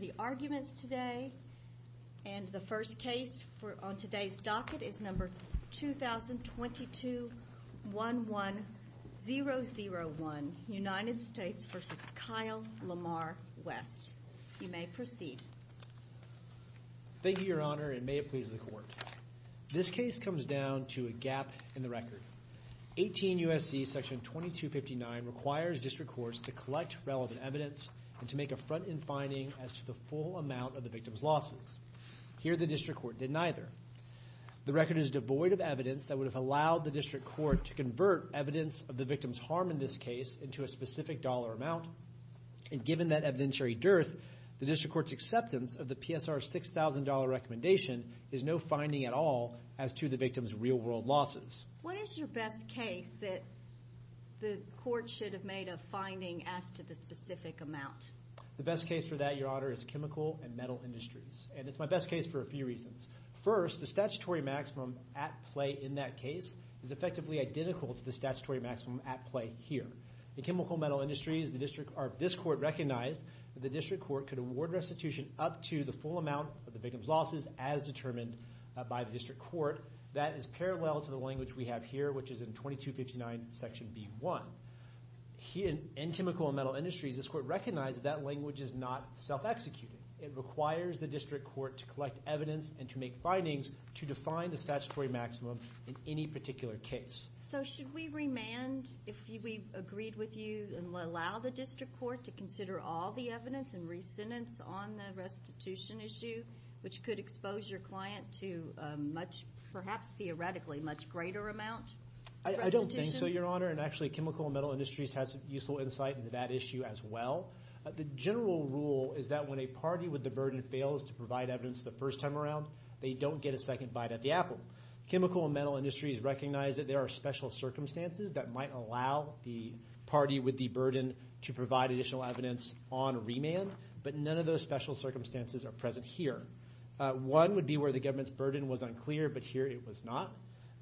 The arguments today and the first case on today's docket is number 2022-11-001, United States v. Kyle Lamar West. You may proceed. Thank you, Your Honor, and may it please the Court. This case comes down to a gap in the record. 18 U.S.C. § 2259 requires district courts to collect relevant evidence and to make a front-end finding as to the full amount of the victim's losses. Here, the district court did neither. The record is devoid of evidence that would have allowed the district court to convert evidence of the victim's harm in this case into a specific dollar amount, and given that evidentiary dearth, the district court's acceptance of the PSR $6,000 recommendation is no finding at all as to the victim's real-world losses. What is your best case that the Court should have made a finding as to the specific amount? The best case for that, Your Honor, is Chemical and Metal Industries, and it's my best case for a few reasons. First, the statutory maximum at play in that case is effectively identical to the statutory maximum at play here. In Chemical and Metal Industries, this Court recognized that the district court could award restitution up to the full amount of the victim's losses as determined by the district court. That is parallel to the language we have here, which is in § 2259, Section B.1. In Chemical and Metal Industries, this Court recognized that that language is not self-executed. It requires the district court to collect evidence and to make findings to define the statutory maximum in any particular case. So should we remand, if we agreed with you, and allow the district court to consider all the evidence and re-sentence on the restitution issue, which could expose your client to a much, perhaps theoretically, much greater amount of restitution? I don't think so, Your Honor, and actually Chemical and Metal Industries has useful insight into that issue as well. The general rule is that when a party with the burden fails to provide evidence the first time around, they don't get a second bite at the apple. Chemical and Metal Industries recognize that there are special circumstances that might allow the party with the burden to provide additional evidence on remand, but none of those special circumstances are present here. One would be where the government's burden was unclear, but here it was not.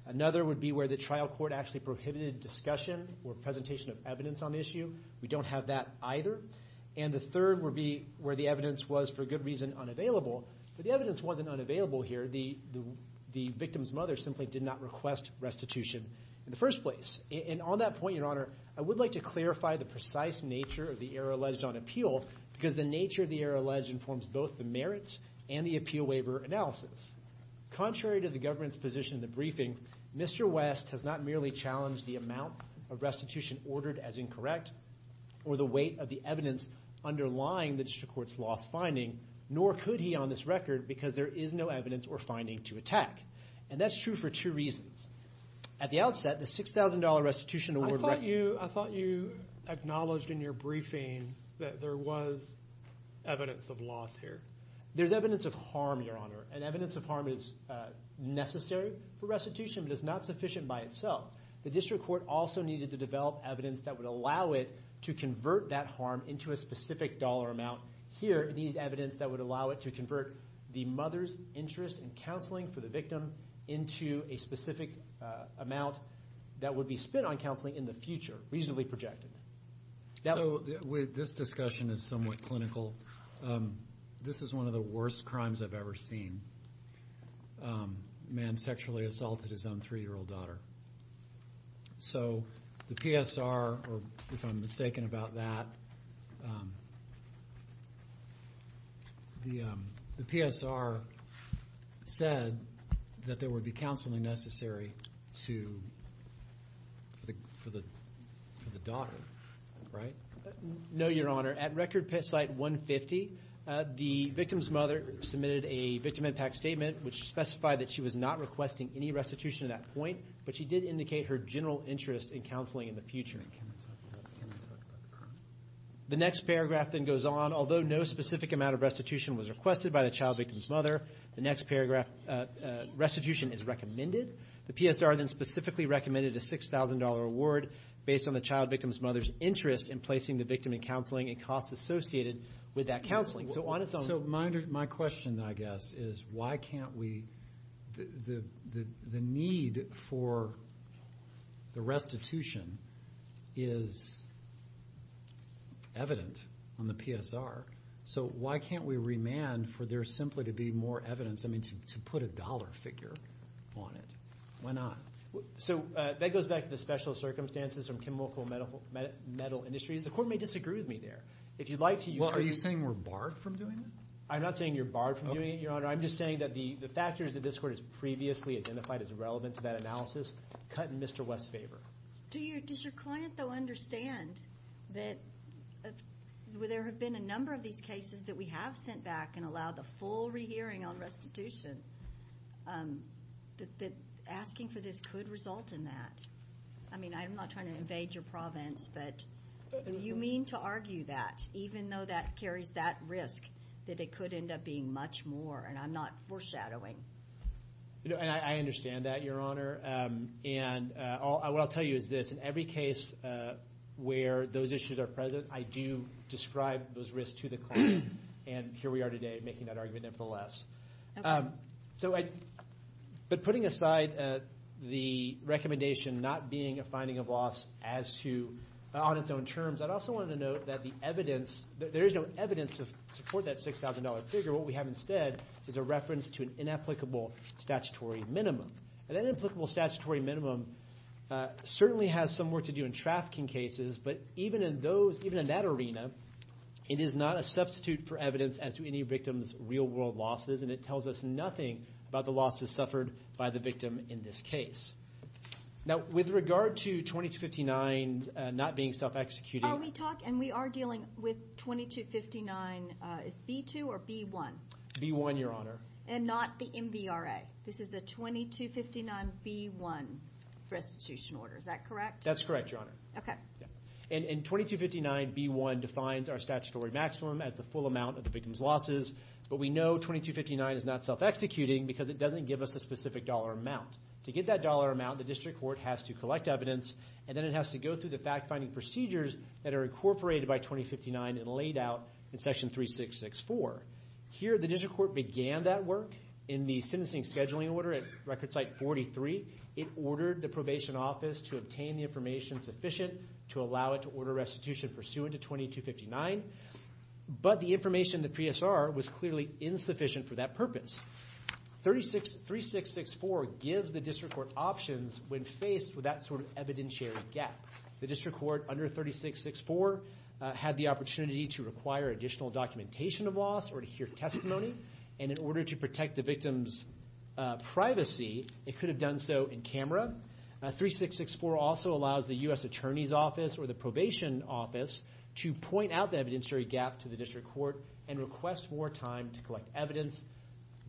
Another would be where the trial court actually prohibited discussion or presentation of evidence on the issue. We don't have that either. And the third would be where the evidence was, for good reason, unavailable. But the evidence wasn't unavailable here. The victim's mother simply did not request restitution in the first place. And on that point, Your Honor, I would like to clarify the precise nature of the error alleged on appeal, because the nature of the error alleged informs both the merits and the appeal waiver analysis. Contrary to the government's position in the briefing, Mr. West has not merely challenged the amount of restitution ordered as incorrect, or the weight of the evidence underlying the district court's lost finding, nor could he on this record, because there is no evidence or finding to attack. And that's true for two reasons. At the outset, the $6,000 restitution award I thought you acknowledged in your briefing that there was evidence of loss here. There's evidence of harm, Your Honor. And evidence of harm is necessary for restitution, but it's not sufficient by itself. The district court also needed to develop evidence that would allow it to convert that harm into a specific dollar amount. Here, it needed evidence that would allow it to convert the mother's interest in counseling for the victim into a specific amount that would be spent on counseling in the future, reasonably projected. So this discussion is somewhat clinical. This is one of the worst crimes I've ever seen. Man sexually assaulted his own three-year-old daughter. So the PSR, or if I'm mistaken about that, the PSR said that there would be counseling for the mother's interest in counseling for the daughter, right? No, Your Honor. At record site 150, the victim's mother submitted a victim impact statement which specified that she was not requesting any restitution at that point, but she did indicate her general interest in counseling in the future. The next paragraph then goes on. Although no specific amount of restitution was requested by the child victim's mother, the next paragraph, restitution is recommended. The PSR then specifically recommended a $6,000 award based on the child victim's mother's interest in placing the victim in counseling and costs associated with that counseling. So on its own... So my question, I guess, is why can't we, the need for the restitution is evident on the PSR, so why can't we remand for there simply to be more evidence, I mean, to put a dollar figure on it? Why not? So that goes back to the special circumstances from chemical metal industries. The Court may disagree with me there. If you'd like to... Well, are you saying we're barred from doing that? I'm not saying you're barred from doing it, Your Honor. I'm just saying that the factors that this Court has previously identified as relevant to that analysis cut in Mr. West's favor. Does your client, though, understand that there have been a number of these cases that we have sent back and allowed the full rehearing on restitution, that asking for this could result in that? I mean, I'm not trying to invade your province, but do you mean to argue that, even though that carries that risk, that it could end up being much more, and I'm not foreshadowing? I understand that, Your Honor, and what I'll tell you is this. In every case where those issues are present, I do describe those risks to the client, and here we are today making that argument, nevertheless. But putting aside the recommendation not being a finding of loss on its own terms, I'd also want to note that the evidence, that there is no evidence to support that $6,000 figure. What we have instead is a reference to an inapplicable statutory minimum, and that inapplicable statutory minimum certainly has some work to do in trafficking cases, but even in that arena, it is not a substitute for evidence as to any victim's real-world losses, and it tells us nothing about the losses suffered by the victim in this case. Now, with regard to 2259 not being self-executed... Let me talk, and we are dealing with 2259, is it B-2 or B-1? B-1, Your Honor. And not the MVRA? This is a 2259-B-1 restitution order, is that correct? That's correct, Your Honor. Okay. And 2259-B-1 defines our statutory maximum as the full amount of the victim's losses, but we know 2259 is not self-executing because it doesn't give us a specific dollar amount. To get that dollar amount, the district court has to collect evidence, and then it has to go through the fact-finding procedures that are incorporated by 2059 and laid out in Section 3664. Here, the district court began that work in the Sentencing Scheduling Order at Record Site 43. It ordered the Probation Office to obtain the information sufficient to allow it to order restitution pursuant to 2259, but the information in the PSR was clearly insufficient for that purpose. 3664 gives the district court options when faced with that sort of evidentiary gap. The district court under 3664 had the opportunity to require additional documentation of loss or to hear testimony, and in order to protect the victim's privacy, it could have done so in camera. 3664 also allows the U.S. Attorney's Office or the Probation Office to point out the evidentiary gap to the district court and request more time to collect evidence.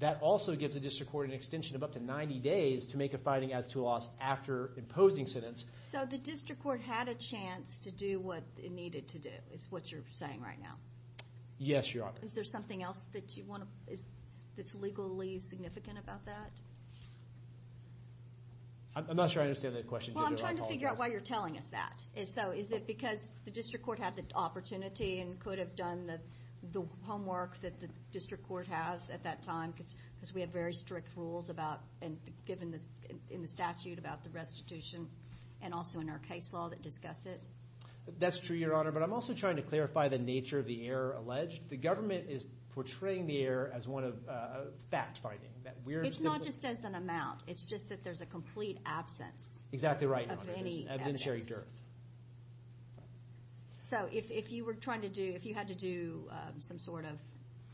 That also gives the district court an extension of up to 90 days to make a finding as to loss after imposing sentence. So the district court had a chance to do what it needed to do, is what you're saying right now? Yes, Your Honor. Is there something else that you want to, that's legally significant about that? I'm not sure I understand that question. Well, I'm trying to figure out why you're telling us that. So is it because the district court had the opportunity and could have done the homework that the district court has at that time because we have very strict rules about, given in the statute, about the restitution and also in our case law that discuss it? That's true, Your Honor, but I'm also trying to clarify the nature of the error alleged. The government is portraying the error as one of fact-finding. It's not just as an amount. It's just that there's a complete absence of any evidence. So if you were trying to do, if you had to do some sort of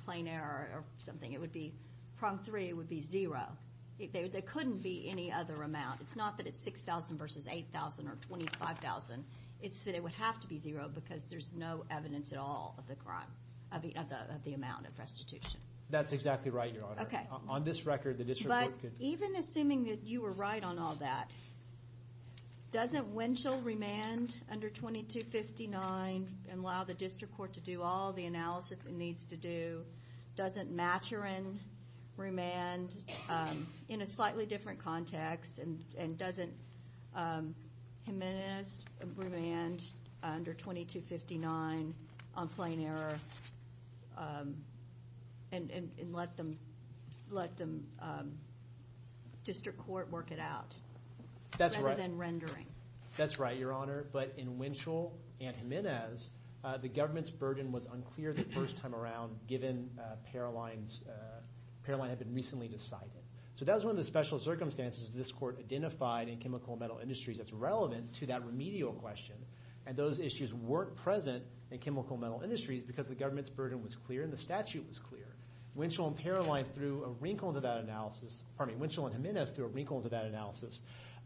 plain error or something, it would be, prong three, it would be zero. There couldn't be any other amount. It's not that it's 6,000 versus 8,000 or 25,000. It's that it would have to be zero because there's no evidence at all of the crime, of the amount of restitution. That's exactly right, Your Honor. Okay. On this record, the district court could... under 2259 and allow the district court to do all the analysis it needs to do. Doesn't Maturin remand in a slightly different context and doesn't Jimenez remand under 2259 on plain error and let the district court work it out rather than rendering? That's right, Your Honor. But in Winchell and Jimenez, the government's burden was unclear the first time around, given Paroline had been recently decided. So that was one of the special circumstances this court identified in chemical and metal industries that's relevant to that remedial question. And those issues weren't present in chemical and metal industries because the government's burden was clear and the statute was clear. Winchell and Paroline threw a wrinkle into that analysis, pardon me, Winchell and Jimenez threw a wrinkle into that analysis.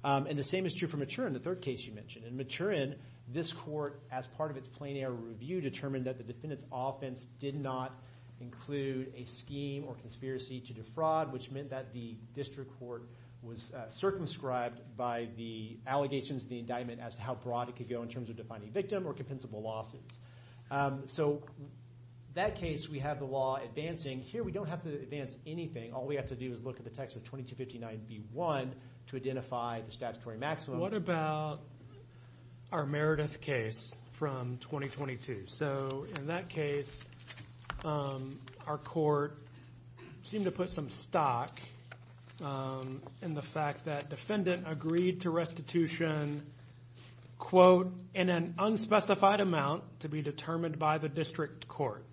And the same is true for Maturin, the third case you mentioned. In Maturin, this court, as part of its plain error review, determined that the defendant's offense did not include a scheme or conspiracy to defraud, which meant that the district court was circumscribed by the allegations of the indictment as to how broad it could go in terms of defining victim or compensable losses. So that case, we have the law advancing. Here we don't have to advance anything. All we have to do is look at the text of 2259B1 to identify the statutory maximum. What about our Meredith case from 2022? So in that case, our court seemed to put some stock in the fact that defendant agreed to restitution, quote, in an unspecified amount to be determined by the district court,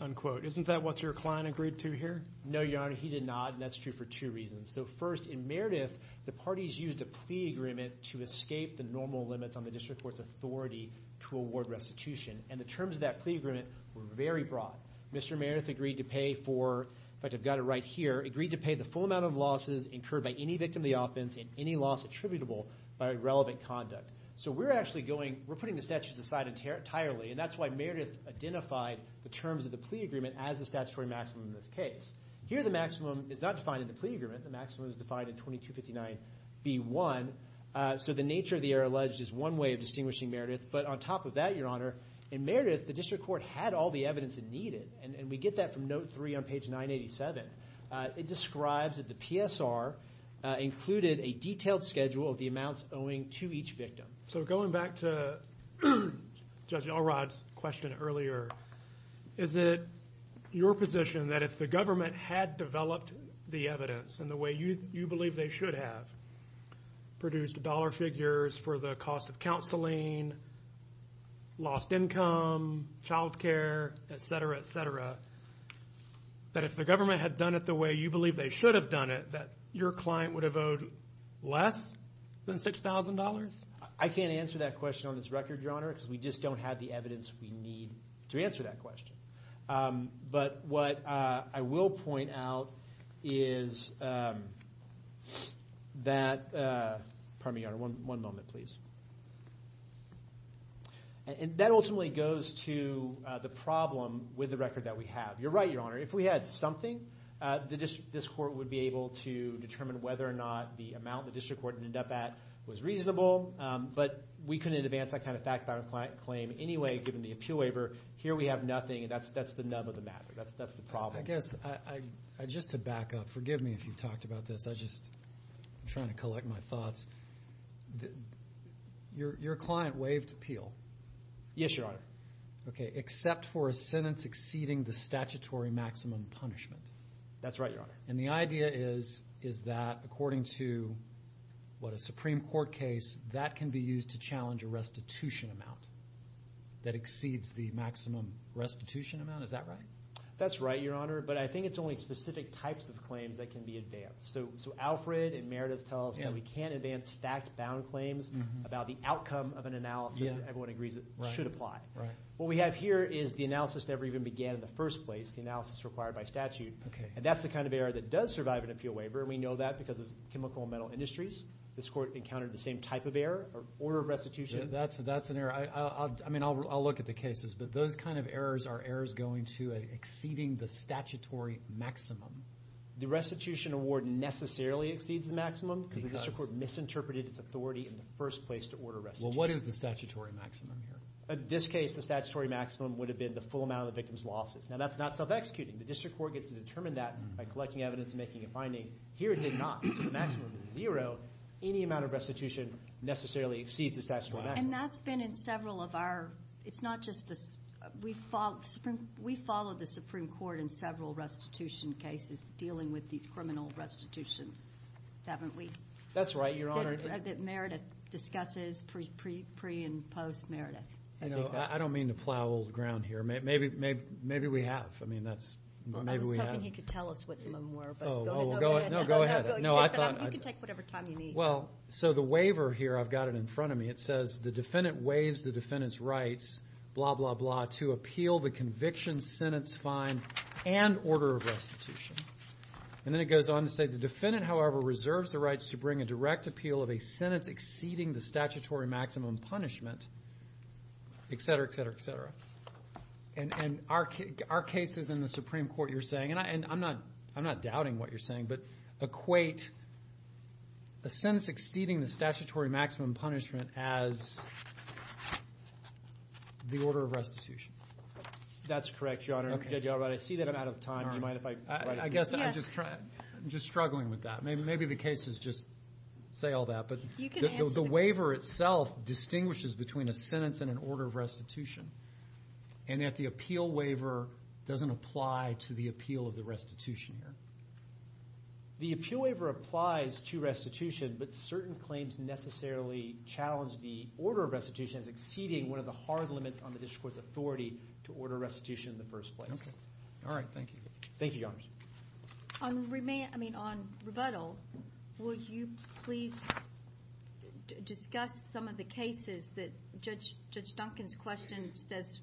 unquote. Isn't that what your client agreed to here? No, Your Honor. He did not. And that's true for two reasons. So first, in Meredith, the parties used a plea agreement to escape the normal limits on the district court's authority to award restitution. And the terms of that plea agreement were very broad. Mr. Meredith agreed to pay for, in fact, I've got it right here, agreed to pay the full amount of losses incurred by any victim of the offense and any loss attributable by irrelevant conduct. So we're actually going, we're putting the statutes aside entirely. And that's why Meredith identified the terms of the plea agreement as the statutory maximum in this case. Here, the maximum is not defined in the plea agreement. The maximum is defined in 2259B1. So the nature of the error alleged is one way of distinguishing Meredith. But on top of that, Your Honor, in Meredith, the district court had all the evidence it needed. And we get that from note three on page 987. It describes that the PSR included a detailed schedule of the amounts owing to each victim. So going back to Judge Alrod's question earlier, is it your position that if the government had developed the evidence in the way you believe they should have, produced dollar figures for the cost of counseling, lost income, child care, et cetera, et cetera, that if the government had done it the way you believe they should have done it, that your client would have owed less than $6,000? I can't answer that question on this record, Your Honor, because we just don't have the evidence we need to answer that question. But what I will point out is that, pardon me, Your Honor, one moment, please. And that ultimately goes to the problem with the record that we have. You're right, Your Honor. If we had something, this court would be able to determine whether or not the amount the district court ended up at was reasonable. But we couldn't advance that kind of fact-bound claim anyway, given the appeal waiver. Here we have nothing, and that's the nub of the matter. That's the problem. I guess, just to back up, forgive me if you've talked about this. I'm just trying to collect my thoughts. Your client waived appeal. Yes, Your Honor. That's right, Your Honor. And the idea is that, according to a Supreme Court case, that can be used to challenge a restitution amount that exceeds the maximum restitution amount. Is that right? That's right, Your Honor. But I think it's only specific types of claims that can be advanced. So Alfred and Meredith tell us that we can't advance fact-bound claims about the outcome of an analysis that everyone agrees should apply. What we have here is the analysis never even began in the first place, the analysis required by statute. And that's the kind of error that does survive an appeal waiver, and we know that because of chemical and metal industries. This Court encountered the same type of error, order of restitution. That's an error. I mean, I'll look at the cases, but those kind of errors are errors going to exceeding the statutory maximum. The restitution award necessarily exceeds the maximum because the District Court misinterpreted its authority in the first place to order restitution. Well, what is the statutory maximum here? In this case, the statutory maximum would have been the full amount of the victim's losses. Now, that's not self-executing. The District Court gets to determine that by collecting evidence and making a finding. Here, it did not. So the maximum is zero. Any amount of restitution necessarily exceeds the statutory maximum. And that's been in several of our... It's not just the... We follow the Supreme Court in several restitution cases dealing with these criminal restitutions, haven't we? That's right, Your Honor. That Meredith discusses pre and post-Meredith. You know, I don't mean to plow old ground here. Maybe we have. I mean, that's... I was hoping he could tell us what some of them were. Oh, go ahead. No, go ahead. You can take whatever time you need. Well, so the waiver here, I've got it in front of me. It says, the defendant waives the defendant's rights, blah, blah, blah, to appeal the conviction, sentence, fine, and order of restitution. And then it goes on to say, the defendant, however, reserves the rights to bring a direct appeal of a sentence exceeding the statutory maximum punishment, et cetera, et cetera, et cetera. And our cases in the Supreme Court, you're saying, and I'm not doubting what you're saying, but equate a sentence exceeding the statutory maximum punishment as the order of restitution. That's correct, Your Honor. I see that I'm out of time. You mind if I write it? I guess I'm just struggling with that. Maybe the cases just say all that. But the waiver itself distinguishes between a sentence and an order of restitution, and that the appeal waiver doesn't apply to the appeal of the restitution here. The appeal waiver applies to restitution, but certain claims necessarily challenge the order of restitution as exceeding one of the hard limits on the district court's authority to order restitution in the first place. All right, thank you. On rebuttal, will you please discuss some of the cases that Judge Duncan's question says,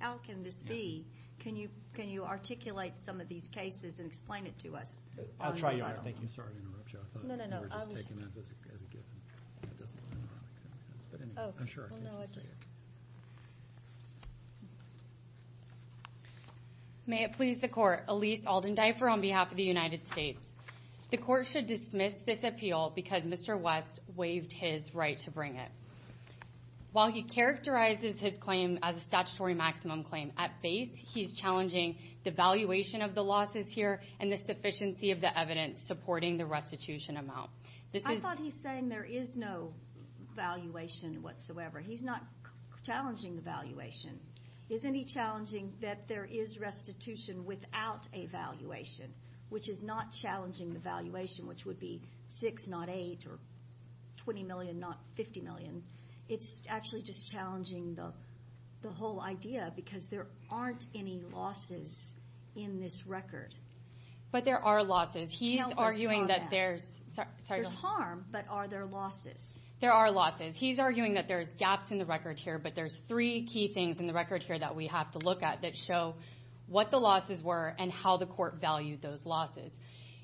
how can this be? Can you articulate some of these cases and explain it to us? I'll try, Your Honor. Thank you. Sorry to interrupt you. I thought you were just taking that as a given. That doesn't make any sense. But anyway, I'm sure our case is clear. May it please the court, Elise Alden-Dyper on behalf of the United States. The court should dismiss this appeal because Mr. West waived his right to bring it. While he characterizes his claim as a statutory maximum claim, at base he's challenging the valuation of the losses here and the sufficiency of the evidence supporting the restitution amount. I thought he's saying there is no valuation whatsoever. He's not challenging the valuation. Isn't he challenging that there is restitution without a valuation, which is not $8 million or $20 million, not $50 million? It's actually just challenging the whole idea because there aren't any losses in this record. But there are losses. He's arguing that there's harm, but are there losses? There are losses. He's arguing that there's gaps in the record here, but there's three key things in the record here that we have to look at that show what the losses were and how the court valued those losses.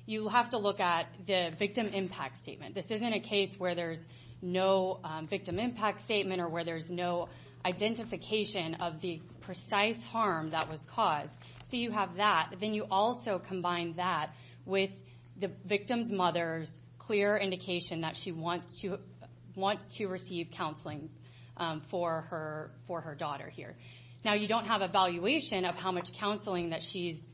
You have to look at the victim impact statement. This isn't a case where there's no victim impact statement or where there's no identification of the precise harm that was caused. So you have that. Then you also combine that with the victim's mother's clear indication that she wants to receive counseling for her daughter here. Now, you don't have a valuation of how much counseling that she's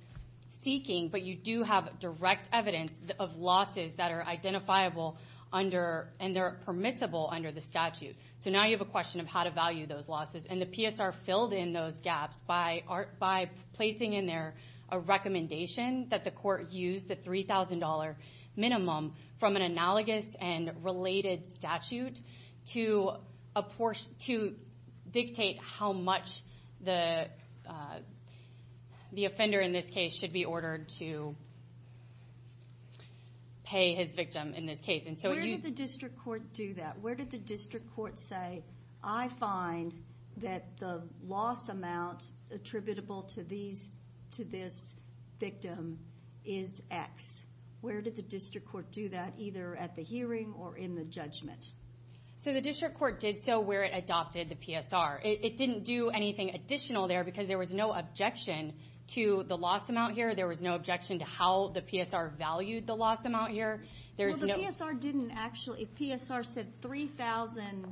seeking, but you do have direct evidence of losses that are identifiable and they're permissible under the statute. So now you have a question of how to value those losses. And the PSR filled in those gaps by placing in there a recommendation that the court use the $3,000 minimum from an analogous and related statute to dictate how much the offender in this case should be ordered to pay his victim in this case. And so it uses the district court do that? Where did the district court say, I find that the loss amount attributable to this victim is x? Where did the district court do that, either at the hearing or in the judgment? So the district court did so where it adopted the PSR. It didn't do anything additional there because there was no objection to the loss amount here. There was no objection to how the PSR valued the loss amount here. Well, the PSR didn't actually. The PSR said $3,000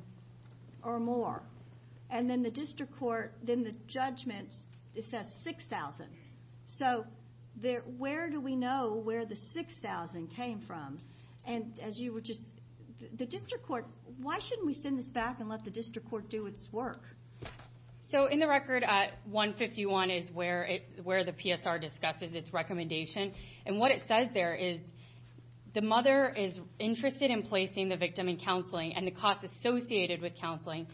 or more. And then the district court, then the judgments, it says $6,000. So where do we know where the $6,000 came from? And as you were just, the district court, why shouldn't we send this back and let the district court do its work? So in the record, 151 is where the PSR discusses its recommendation. And what it says there is, the mother is interested in placing the victim in counseling and the cost associated with counseling.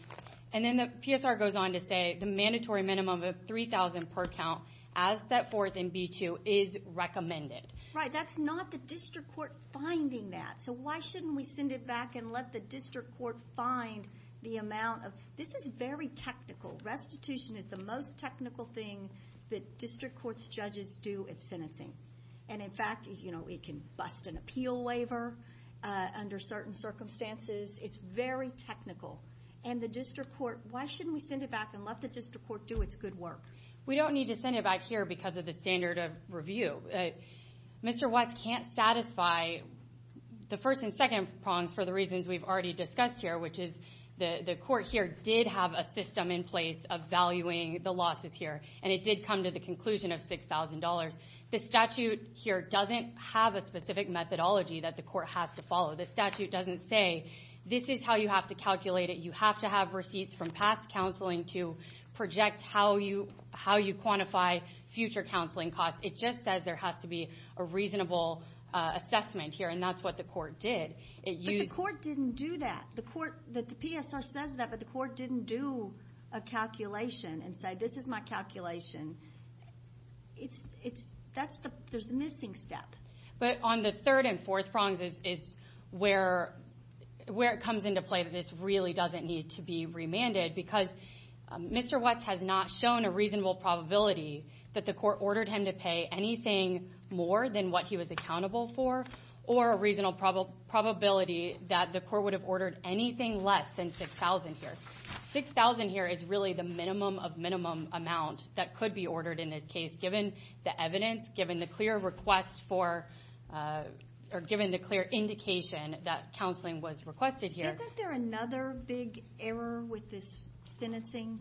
And then the PSR goes on to say, the mandatory minimum of $3,000 per count as set forth in B2 is recommended. Right, that's not the district court finding that. So why shouldn't we send it back and let the district court find the amount of, this is very technical. Restitution is the most technical thing that district court's judges do at sentencing. And in fact, it can bust an appeal waiver under certain circumstances. It's very technical. And the district court, why shouldn't we send it back and let the district court do its good work? We don't need to send it back here because of the standard of review. Mr. West can't satisfy the first and second prongs for the reasons we've already discussed here, which is, the court here did have a system in place of valuing the losses here. And it did come to the conclusion of $6,000. The statute here doesn't have a specific methodology that the court has to follow. The statute doesn't say, this is how you have to calculate it. You have to have receipts from past counseling to project how you quantify future counseling costs. It just says there has to be a reasonable assessment here. And that's what the court did. But the court didn't do that. The court, the PSR says that, but the court didn't do a calculation and say, this is my calculation. There's a missing step. But on the third and fourth prongs is where it comes into play that this really doesn't need to be remanded, because Mr. West has not shown a reasonable probability that the court ordered him to pay anything more than what he was accountable for, or a reasonable probability that the court would have ordered anything less than $6,000 here. $6,000 here is really the minimum of minimum amount that could be ordered in this case, given the evidence, given the clear request for, or given the clear indication that counseling was requested here. Isn't there another big error with this sentencing?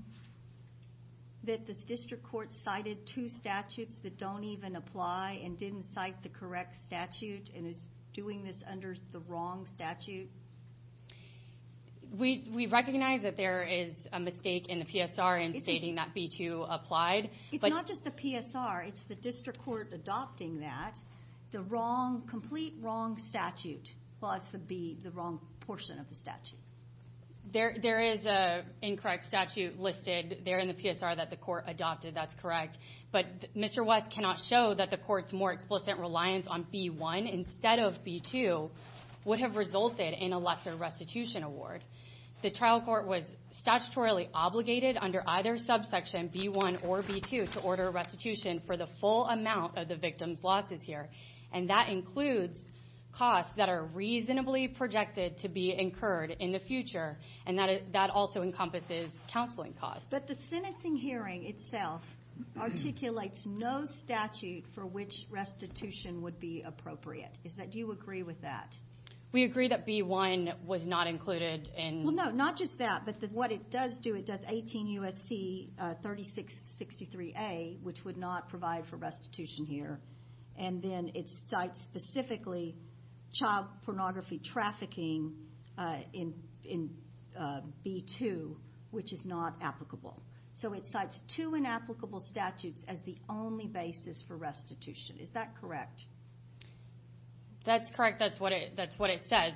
That this district court cited two statutes that don't even apply and didn't cite the correct statute, and is doing this under the wrong statute? We recognize that there is a mistake in the PSR in stating that B-2 applied. It's not just the PSR. It's the district court adopting that, the wrong, complete wrong statute. Well, that's the B, the wrong portion of the statute. There is a incorrect statute listed there in the PSR that the court adopted. That's correct. But Mr. West cannot show that the court's more explicit reliance on B-1 instead of B-2 would have resulted in a lesser restitution award. The trial court was statutorily obligated under either subsection, B-1 or B-2, to order restitution for the full amount of the victim's losses here. And that includes costs that are reasonably projected to be incurred in the future. And that also encompasses counseling costs. But the sentencing hearing itself articulates no statute for which restitution would be appropriate. Do you agree with that? We agree that B-1 was not included in. Well, no, not just that. But what it does do, it does 18 U.S.C. 3663a, which would not provide for restitution here. And then it cites specifically child pornography trafficking in B-2, which is not applicable. So it cites two inapplicable statutes as the only basis for restitution. Is that correct? That's correct. That's what it says.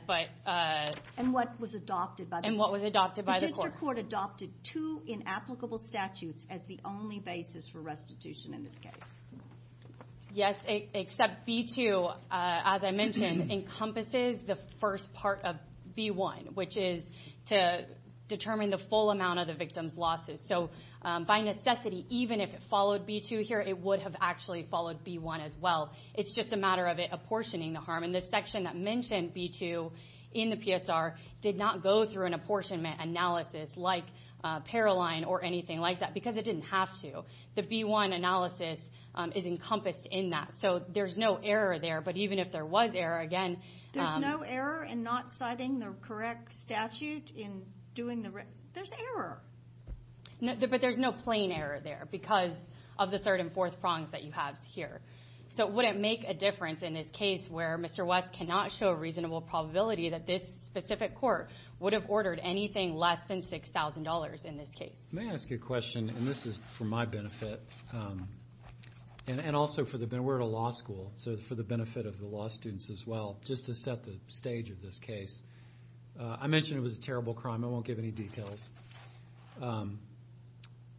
And what was adopted by the court? And what was adopted by the court? The district court adopted two inapplicable statutes as the only basis for restitution in this case. Yes. Except B-2, as I mentioned, encompasses the first part of B-1, which is to determine the full amount of the victim's losses. So by necessity, even if it followed B-2 here, it would have actually followed B-1 as well. It's just a matter of it apportioning the harm. And this section that mentioned B-2 in the PSR did not go through an apportionment analysis like Paroline or anything like that, because it didn't have to. The B-1 analysis is encompassed in that. So there's no error there. But even if there was error, again, There's no error in not citing the correct statute in doing the rest. There's error. But there's no plain error there, because of the third and fourth prongs that you have here. So it wouldn't make a difference in this case where Mr. West cannot show a reasonable probability that this specific court would have ordered anything less than $6,000 in this case. May I ask you a question? And this is for my benefit. And also, we're at a law school. So for the benefit of the law students as well, just to set the stage of this case. I mentioned it was a terrible crime. I won't give any details.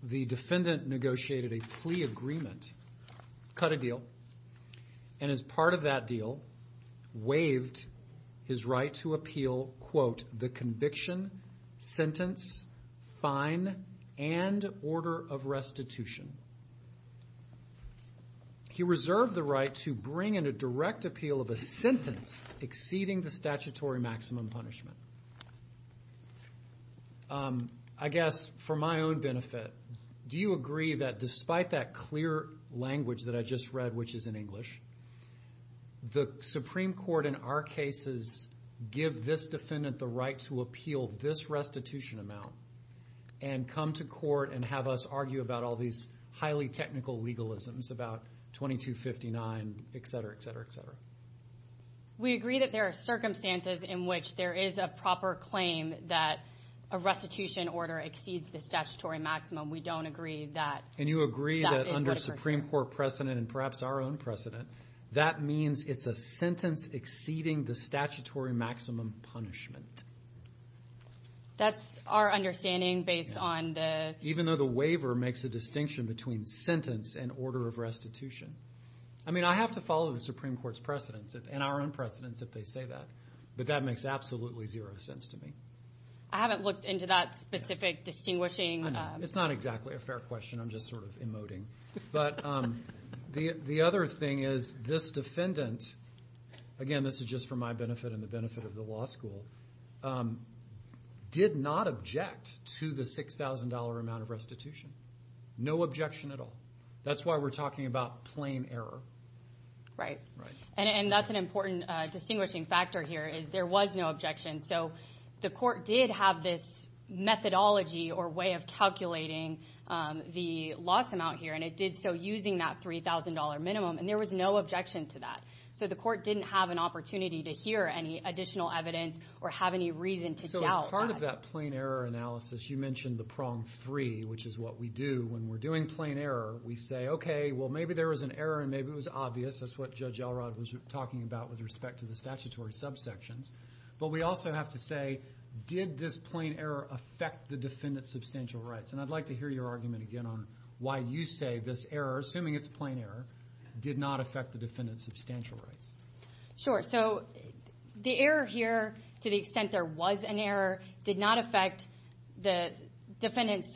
The defendant negotiated a plea agreement, cut a deal. And as part of that deal, waived his right to appeal, quote, the conviction, sentence, fine, and order of restitution. He reserved the right to bring in a direct appeal of a sentence exceeding the statutory maximum punishment. I guess for my own benefit, do you agree that despite that clear language that I just read, which is in English, the Supreme Court in our cases give this defendant the right to appeal this restitution amount and come to court and have us argue about all these highly technical legalisms about 2259, et cetera, et cetera, et cetera? We agree that there are circumstances in which there is a proper claim that a restitution order exceeds the statutory maximum. We don't agree that that is what occurred. And you agree that under Supreme Court precedent, and perhaps our own precedent, that means it's a sentence exceeding the statutory maximum punishment. That's our understanding based on the- Even though the waiver makes a distinction between sentence and order of restitution. I mean, I have to follow the Supreme Court's precedents and our own precedents if they say that. But that makes absolutely zero sense to me. I haven't looked into that specific distinguishing- It's not exactly a fair question. I'm just sort of emoting. But the other thing is this defendant, again, this is just for my benefit and the benefit of the law school, did not object to the $6,000 amount of restitution. No objection at all. That's why we're talking about plain error. Right. And that's an important distinguishing factor here is there was no objection. So the court did have this methodology or way of calculating the loss amount here. And it did so using that $3,000 minimum. And there was no objection to that. So the court didn't have an opportunity to hear any additional evidence or have any reason to doubt. So as part of that plain error analysis, you mentioned the prong three, which is what we do. When we're doing plain error, we say, OK, well, maybe there was an error and maybe it was obvious. That's what Judge Elrod was talking about with respect to the statutory subsections. But we also have to say, did this plain error affect the defendant's substantial rights? And I'd like to hear your argument again why you say this error, assuming it's plain error, did not affect the defendant's substantial rights. Sure. So the error here, to the extent there was an error, did not affect the defendant's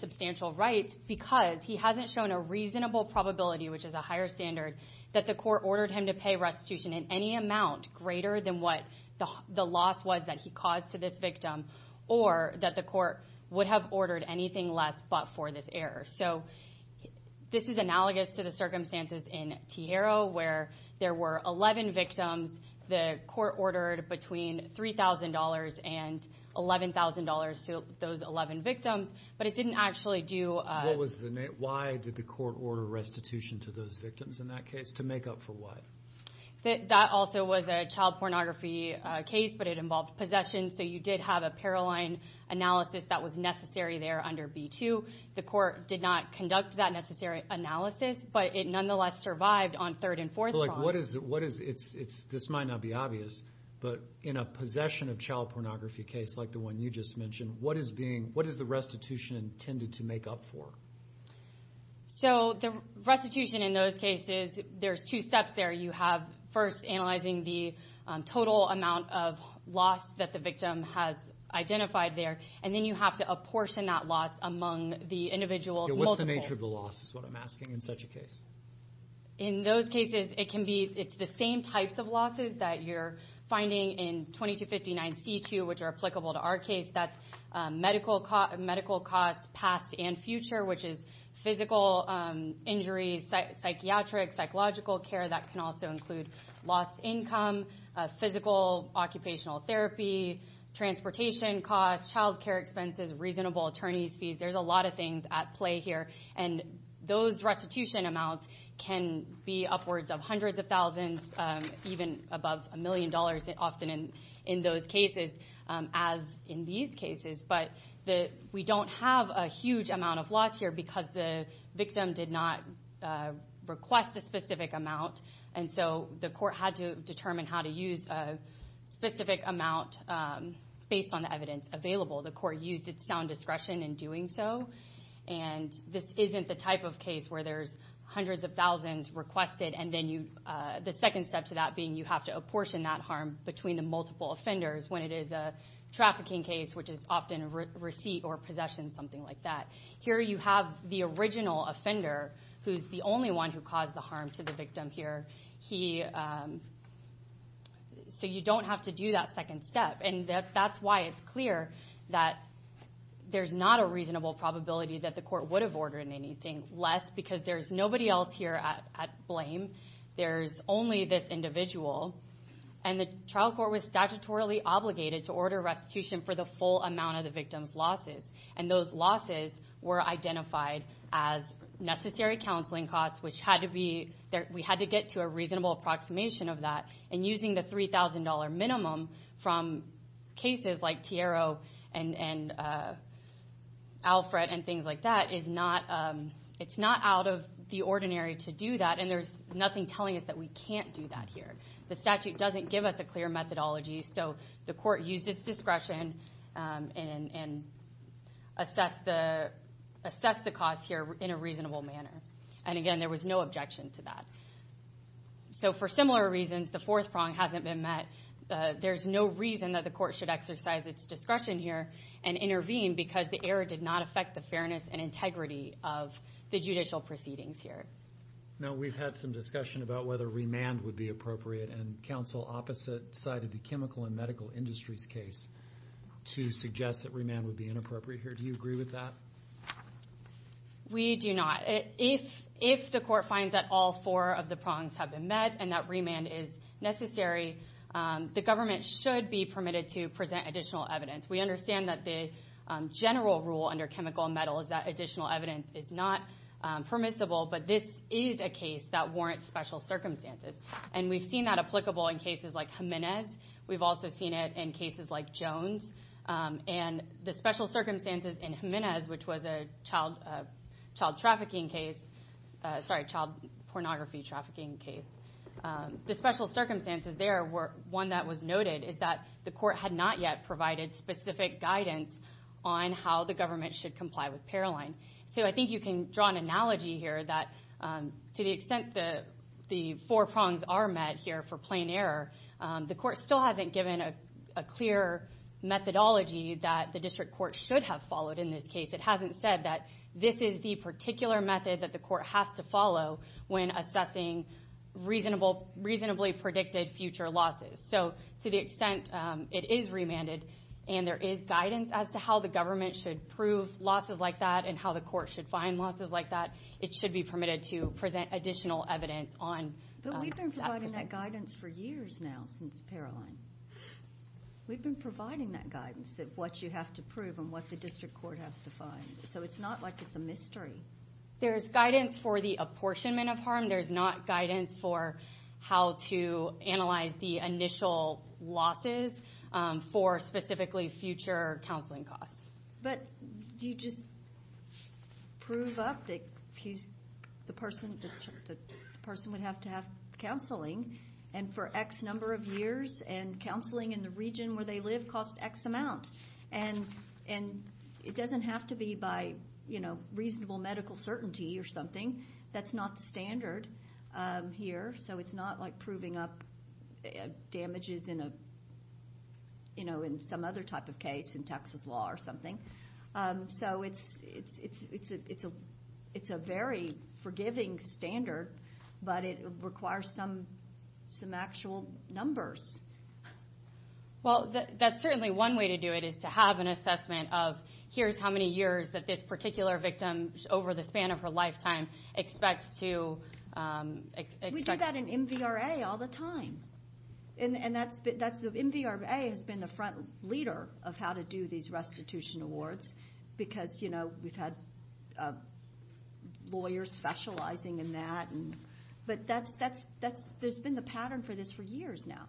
substantial rights because he hasn't shown a reasonable probability, which is a higher standard, that the court ordered him to pay restitution in any amount greater than what the loss was that he caused to this victim or that the court would have ordered anything less but for this error. So this is analogous to the circumstances in Tijero where there were 11 victims. The court ordered between $3,000 and $11,000 to those 11 victims. But it didn't actually do a- What was the name? Why did the court order restitution to those victims in that case? To make up for what? That also was a child pornography case, but it involved possession. So you did have a paroline analysis that was necessary there under B-2. The court did not conduct that necessary analysis, but it nonetheless survived on third and fourth promise. This might not be obvious, but in a possession of child pornography case, like the one you just mentioned, what is the restitution intended to make up for? So the restitution in those cases, there's two steps there. You have, first, analyzing the total amount of loss that the victim has identified there. And then you have to apportion that loss among the individuals, multiple. Yeah, what's the nature of the loss, is what I'm asking in such a case? In those cases, it can be, it's the same types of losses that you're finding in 2259-C-2, which are applicable to our case. That's medical costs past and future, which is physical injuries, psychiatric, psychological care. That can also include lost income, physical, occupational therapy, transportation costs, child care expenses, reasonable attorney's fees. There's a lot of things at play here. And those restitution amounts can be upwards of hundreds of thousands, even above a million dollars, often in those cases, as in these cases. But we don't have a huge amount of loss here because the victim did not request a specific amount. And so the court had to determine how to use a specific amount based on the evidence available. The court used its sound discretion in doing so. And this isn't the type of case where there's hundreds of thousands requested, and then you, the second step to that being you have to apportion that harm between the multiple offenders, when it is a trafficking case, which is often a receipt or possession, something like that. Here you have the original offender, who's the only one who caused the harm to the victim here. He, so you don't have to do that second step. And that's why it's clear that there's not a reasonable probability that the court would have ordered anything less because there's nobody else here at blame. There's only this individual. And the trial court was statutorily obligated to order restitution for the full amount of the victim's losses. And those losses were identified as necessary counseling costs, which had to be, we had to get to a reasonable approximation of that. And using the $3,000 minimum from cases like Tiero and Alfred and things like that is not, it's not out of the ordinary to do that. And there's nothing telling us that we can't do that here. The statute doesn't give us a clear methodology, so the court used its discretion and assessed the cost here in a reasonable manner. And again, there was no objection to that. So for similar reasons, the fourth prong hasn't been met. There's no reason that the court should exercise its discretion here and intervene because the error did not affect the fairness and integrity of the judicial proceedings here. Now we've had some discussion about whether remand would be appropriate. And counsel opposite sided the chemical and medical industries case to suggest that remand would be inappropriate here. Do you agree with that? We do not. If the court finds that all four of the prongs have been met and that remand is necessary, the government should be permitted to present additional evidence. We understand that the general rule under chemical and metal is that additional evidence is not permissible, but this is a case that warrants special circumstances. And we've seen that applicable in cases like Jimenez. We've also seen it in cases like Jones. And the special circumstances in Jimenez, which was a child trafficking case, sorry, child pornography trafficking case. The special circumstances there were one that was noted is that the court had not yet provided specific guidance on how the government should comply with Paroline. So I think you can draw an analogy here that to the extent that the four prongs are met here for plain error, the court still hasn't given a clear methodology that the district court should have followed in this case. It hasn't said that this is the particular method that the court has to follow when assessing reasonably predicted future losses. So to the extent it is remanded and there is guidance as to how the government should prove losses like that and how the court should find losses like that, it should be permitted to present additional evidence on that process. But we've been providing that guidance for years now since Paroline. We've been providing that guidance that what you have to prove and what the district court has to find. So it's not like it's a mystery. There's guidance for the apportionment of harm. There's not guidance for how to analyze the initial losses for specifically future counseling costs. But you just prove up the person with the child would have to have counseling and for X number of years and counseling in the region where they live cost X amount. And it doesn't have to be by, you know, reasonable medical certainty or something. That's not the standard here. So it's not like proving up damages in a, you know, in some other type of case in Texas law or something. So it's a very forgiving standard, but it requires some actual numbers. Well, that's certainly one way to do it is to have an assessment of here's how many years that this particular victim over the span of her lifetime expects to expect. We do that in MVRA all the time. And MVRA has been the front leader of how to do these restitution awards because, you know, we've had lawyers specializing in that but there's been the pattern for this for years now.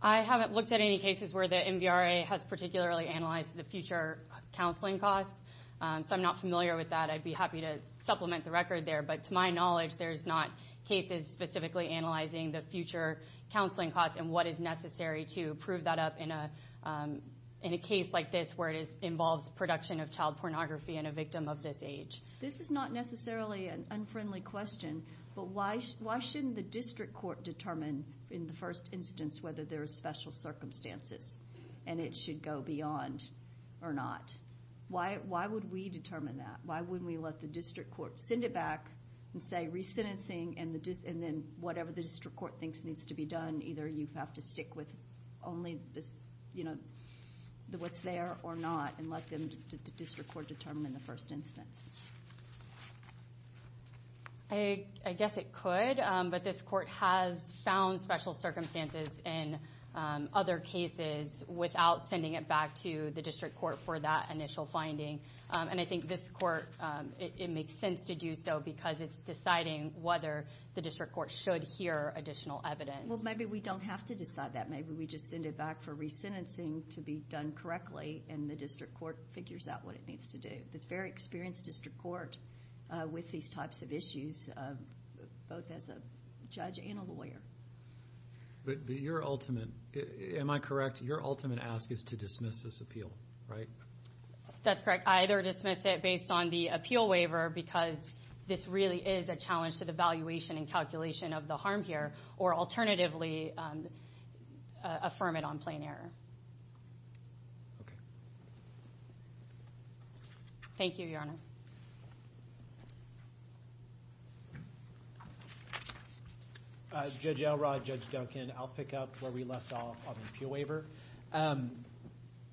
I haven't looked at any cases where the MVRA has particularly analyzed the future counseling costs. So I'm not familiar with that. I'd be happy to supplement the record there. But to my knowledge, there's not cases specifically analyzing the future counseling costs and what is necessary to prove that up in a case like this where it involves production of child pornography and a victim of this age. This is not necessarily an unfriendly question, but why shouldn't the district court determine in the first instance whether there are special circumstances and it should go beyond or not? Why would we determine that? Why wouldn't we let the district court send it back and say re-sentencing and then whatever the district court thinks needs to be done, either you have to stick with only what's there or not and let the district court determine in the first instance? I guess it could, but this court has found special circumstances in other cases without sending it back to the district court for that initial finding. And I think this court, it makes sense to do so because it's deciding whether the district court should hear additional evidence. Well, maybe we don't have to decide that. Maybe we just send it back for re-sentencing to be done correctly and the district court figures out what it needs to do. It's a very experienced district court with these types of issues, both as a judge and a lawyer. But your ultimate, am I correct, your ultimate ask is to dismiss this appeal, right? That's correct, I either dismiss it based on the appeal waiver because this really is a challenge to the valuation and calculation of the harm here, or alternatively affirm it on plain error. Okay. Thank you, Your Honor. Judge Elrod, Judge Duncan, I'll pick up where we left off on the appeal waiver.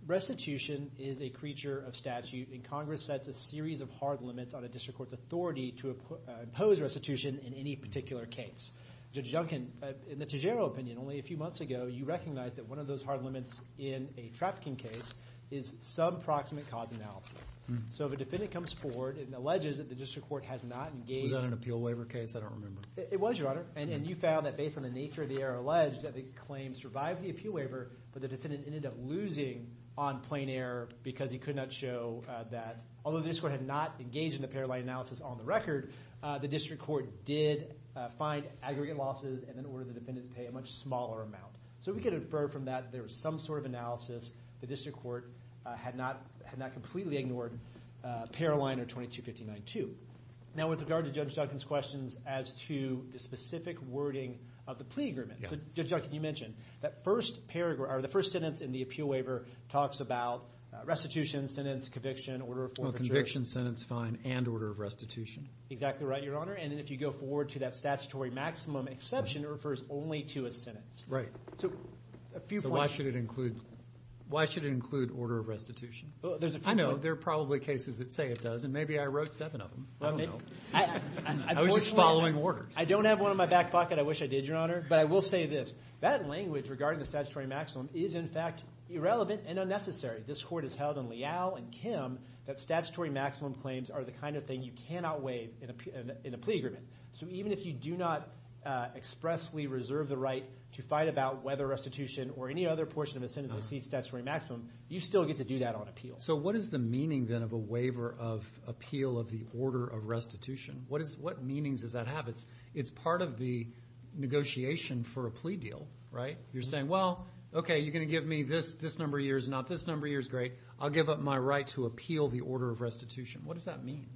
Restitution is a creature of statute and Congress sets a series of hard limits on a district court's authority to impose restitution in any particular case. Judge Duncan, in the Tejero opinion, only a few months ago, you recognized that one of those hard limits in a Trapkin case is sub-proximate cause analysis. So if a defendant comes forward and alleges that the district court has not engaged in Was that an appeal waiver case, I don't remember. It was, Your Honor, and you found that based on the nature of the error alleged, that the claim survived the appeal waiver, but the defendant ended up losing on plain error because he could not show that, although the district court had not engaged in a paralegal analysis on the record, the district court did find aggregate losses and then ordered the defendant to pay a much smaller amount. So we can infer from that there was some sort of analysis. The district court had not completely ignored Paroline or 22-59-2. Now with regard to Judge Duncan's questions as to the specific wording of the plea agreement. So Judge Duncan, you mentioned that first paragraph, or the first sentence in the appeal waiver talks about restitution, sentence, conviction, order of forfeiture. Well, conviction, sentence, fine, and order of restitution. Exactly right, Your Honor, and then if you go forward to that statutory maximum exception, it refers only to a sentence. So why should it include order of restitution? I know, there are probably cases that say it does, and maybe I wrote seven of them, I don't know. I was just following orders. I don't have one in my back pocket, I wish I did, Your Honor, but I will say this. That language regarding the statutory maximum is in fact irrelevant and unnecessary. This court has held in Leal and Kim that statutory maximum claims are the kind of thing you cannot waive in a plea agreement. So even if you do not expressly reserve the right to fight about whether restitution or any other portion of a sentence that exceeds statutory maximum, you still get to do that on appeal. So what is the meaning then of a waiver of appeal of the order of restitution? What meanings does that have? It's part of the negotiation for a plea deal, right? You're saying, well, okay, you're gonna give me this number of years, not this number of years, great. I'll give up my right to appeal the order of restitution. What does that mean?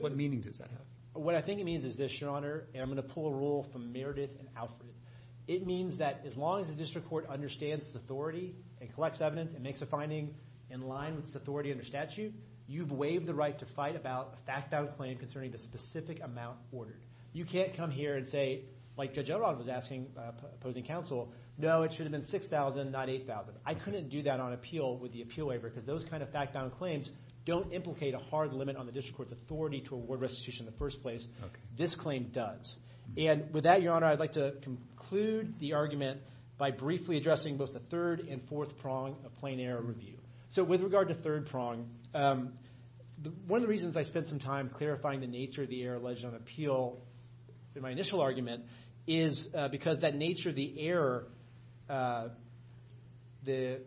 What meaning does that have? What I think it means is this, Your Honor, and I'm gonna pull a rule from Meredith and Alfred. It means that as long as the district court understands its authority and collects evidence and makes a finding in line with its authority under statute, you've waived the right to fight about a fact-bound claim concerning the specific amount ordered. You can't come here and say, like Judge O'Rourke was asking opposing counsel, no, it should have been 6,000, not 8,000. I couldn't do that on appeal with the appeal waiver because those kind of fact-bound claims don't implicate a hard limit on the district court's authority to award restitution in the first place. This claim does. And with that, Your Honor, I'd like to conclude the argument by briefly addressing both the third and fourth prong of plain error review. So with regard to third prong, one of the reasons I spent some time clarifying the nature of the error alleged on appeal in my initial argument is because that nature of the error, the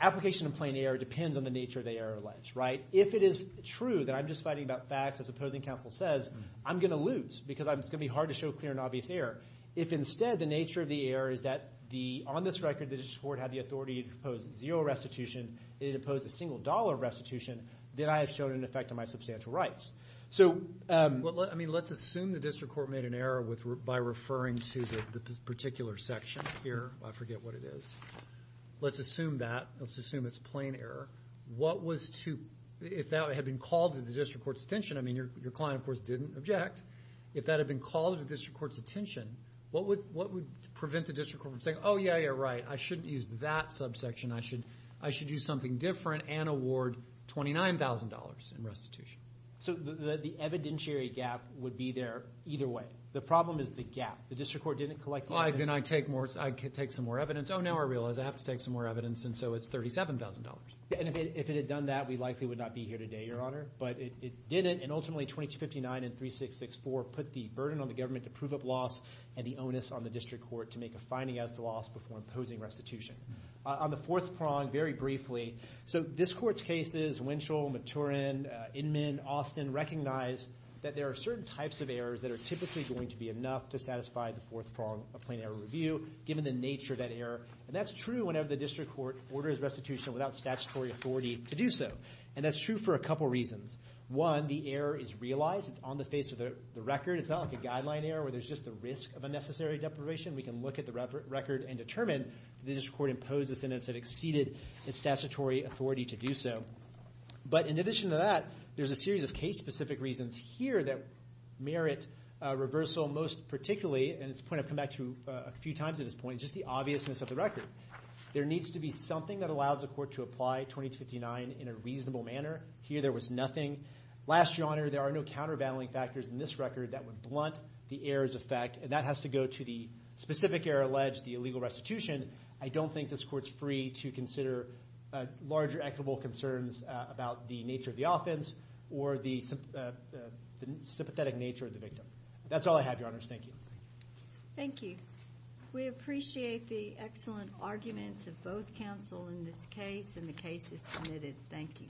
application of plain error depends on the nature of the error alleged, right? If it is true that I'm just fighting about facts as opposing counsel says, I'm gonna lose because it's gonna be hard to show clear and obvious error. If instead the nature of the error is that the, on this record, the district court had the authority to propose zero restitution, it opposed a single dollar restitution, then I have shown an effect on my substantial rights. So, I mean, let's assume the district court made an error by referring to the particular section here. I forget what it is. Let's assume that, let's assume it's plain error. What was to, if that had been called to the district court's attention, I mean, your client, of course, didn't object. If that had been called to the district court's attention, what would prevent the district court from saying, oh, yeah, yeah, right, I shouldn't use that subsection. I should do something different and award $29,000 in restitution. So, the evidentiary gap would be there either way. The problem is the gap. The district court didn't collect the evidence. Then I take some more evidence. Oh, now I realize I have to take some more evidence, and so it's $37,000. And if it had done that, we likely would not be here today, Your Honor. But it didn't, and ultimately 2259 and 3664 put the burden on the government to prove a loss and the onus on the district court to make a finding as to loss before imposing restitution. On the fourth prong, very briefly, so this court's cases, Winchell, Maturin, Inman, Austin, recognized that there are certain types of errors that are typically going to be enough to satisfy the fourth prong of plain error review given the nature of that error. And that's true whenever the district court orders restitution without statutory authority to do so. And that's true for a couple reasons. One, the error is realized. It's on the face of the record. It's not like a guideline error where there's just the risk of unnecessary deprivation. We can look at the record and determine that the district court imposed a sentence that exceeded its statutory authority to do so. But in addition to that, there's a series of case-specific reasons here that merit reversal most particularly, and it's a point I've come back to a few times at this point, just the obviousness of the record. There needs to be something that allows the court to apply 2259 in a reasonable manner. Here there was nothing. Last, Your Honor, there are no countervailing factors in this record that would blunt the error's effect, and that has to go to the specific error alleged, the illegal restitution. I don't think this court's free to consider larger equitable concerns about the nature of the offense or the sympathetic nature of the victim. That's all I have, Your Honors. Thank you. Thank you. We appreciate the excellent arguments of both counsel in this case, and the case is submitted. Thank you.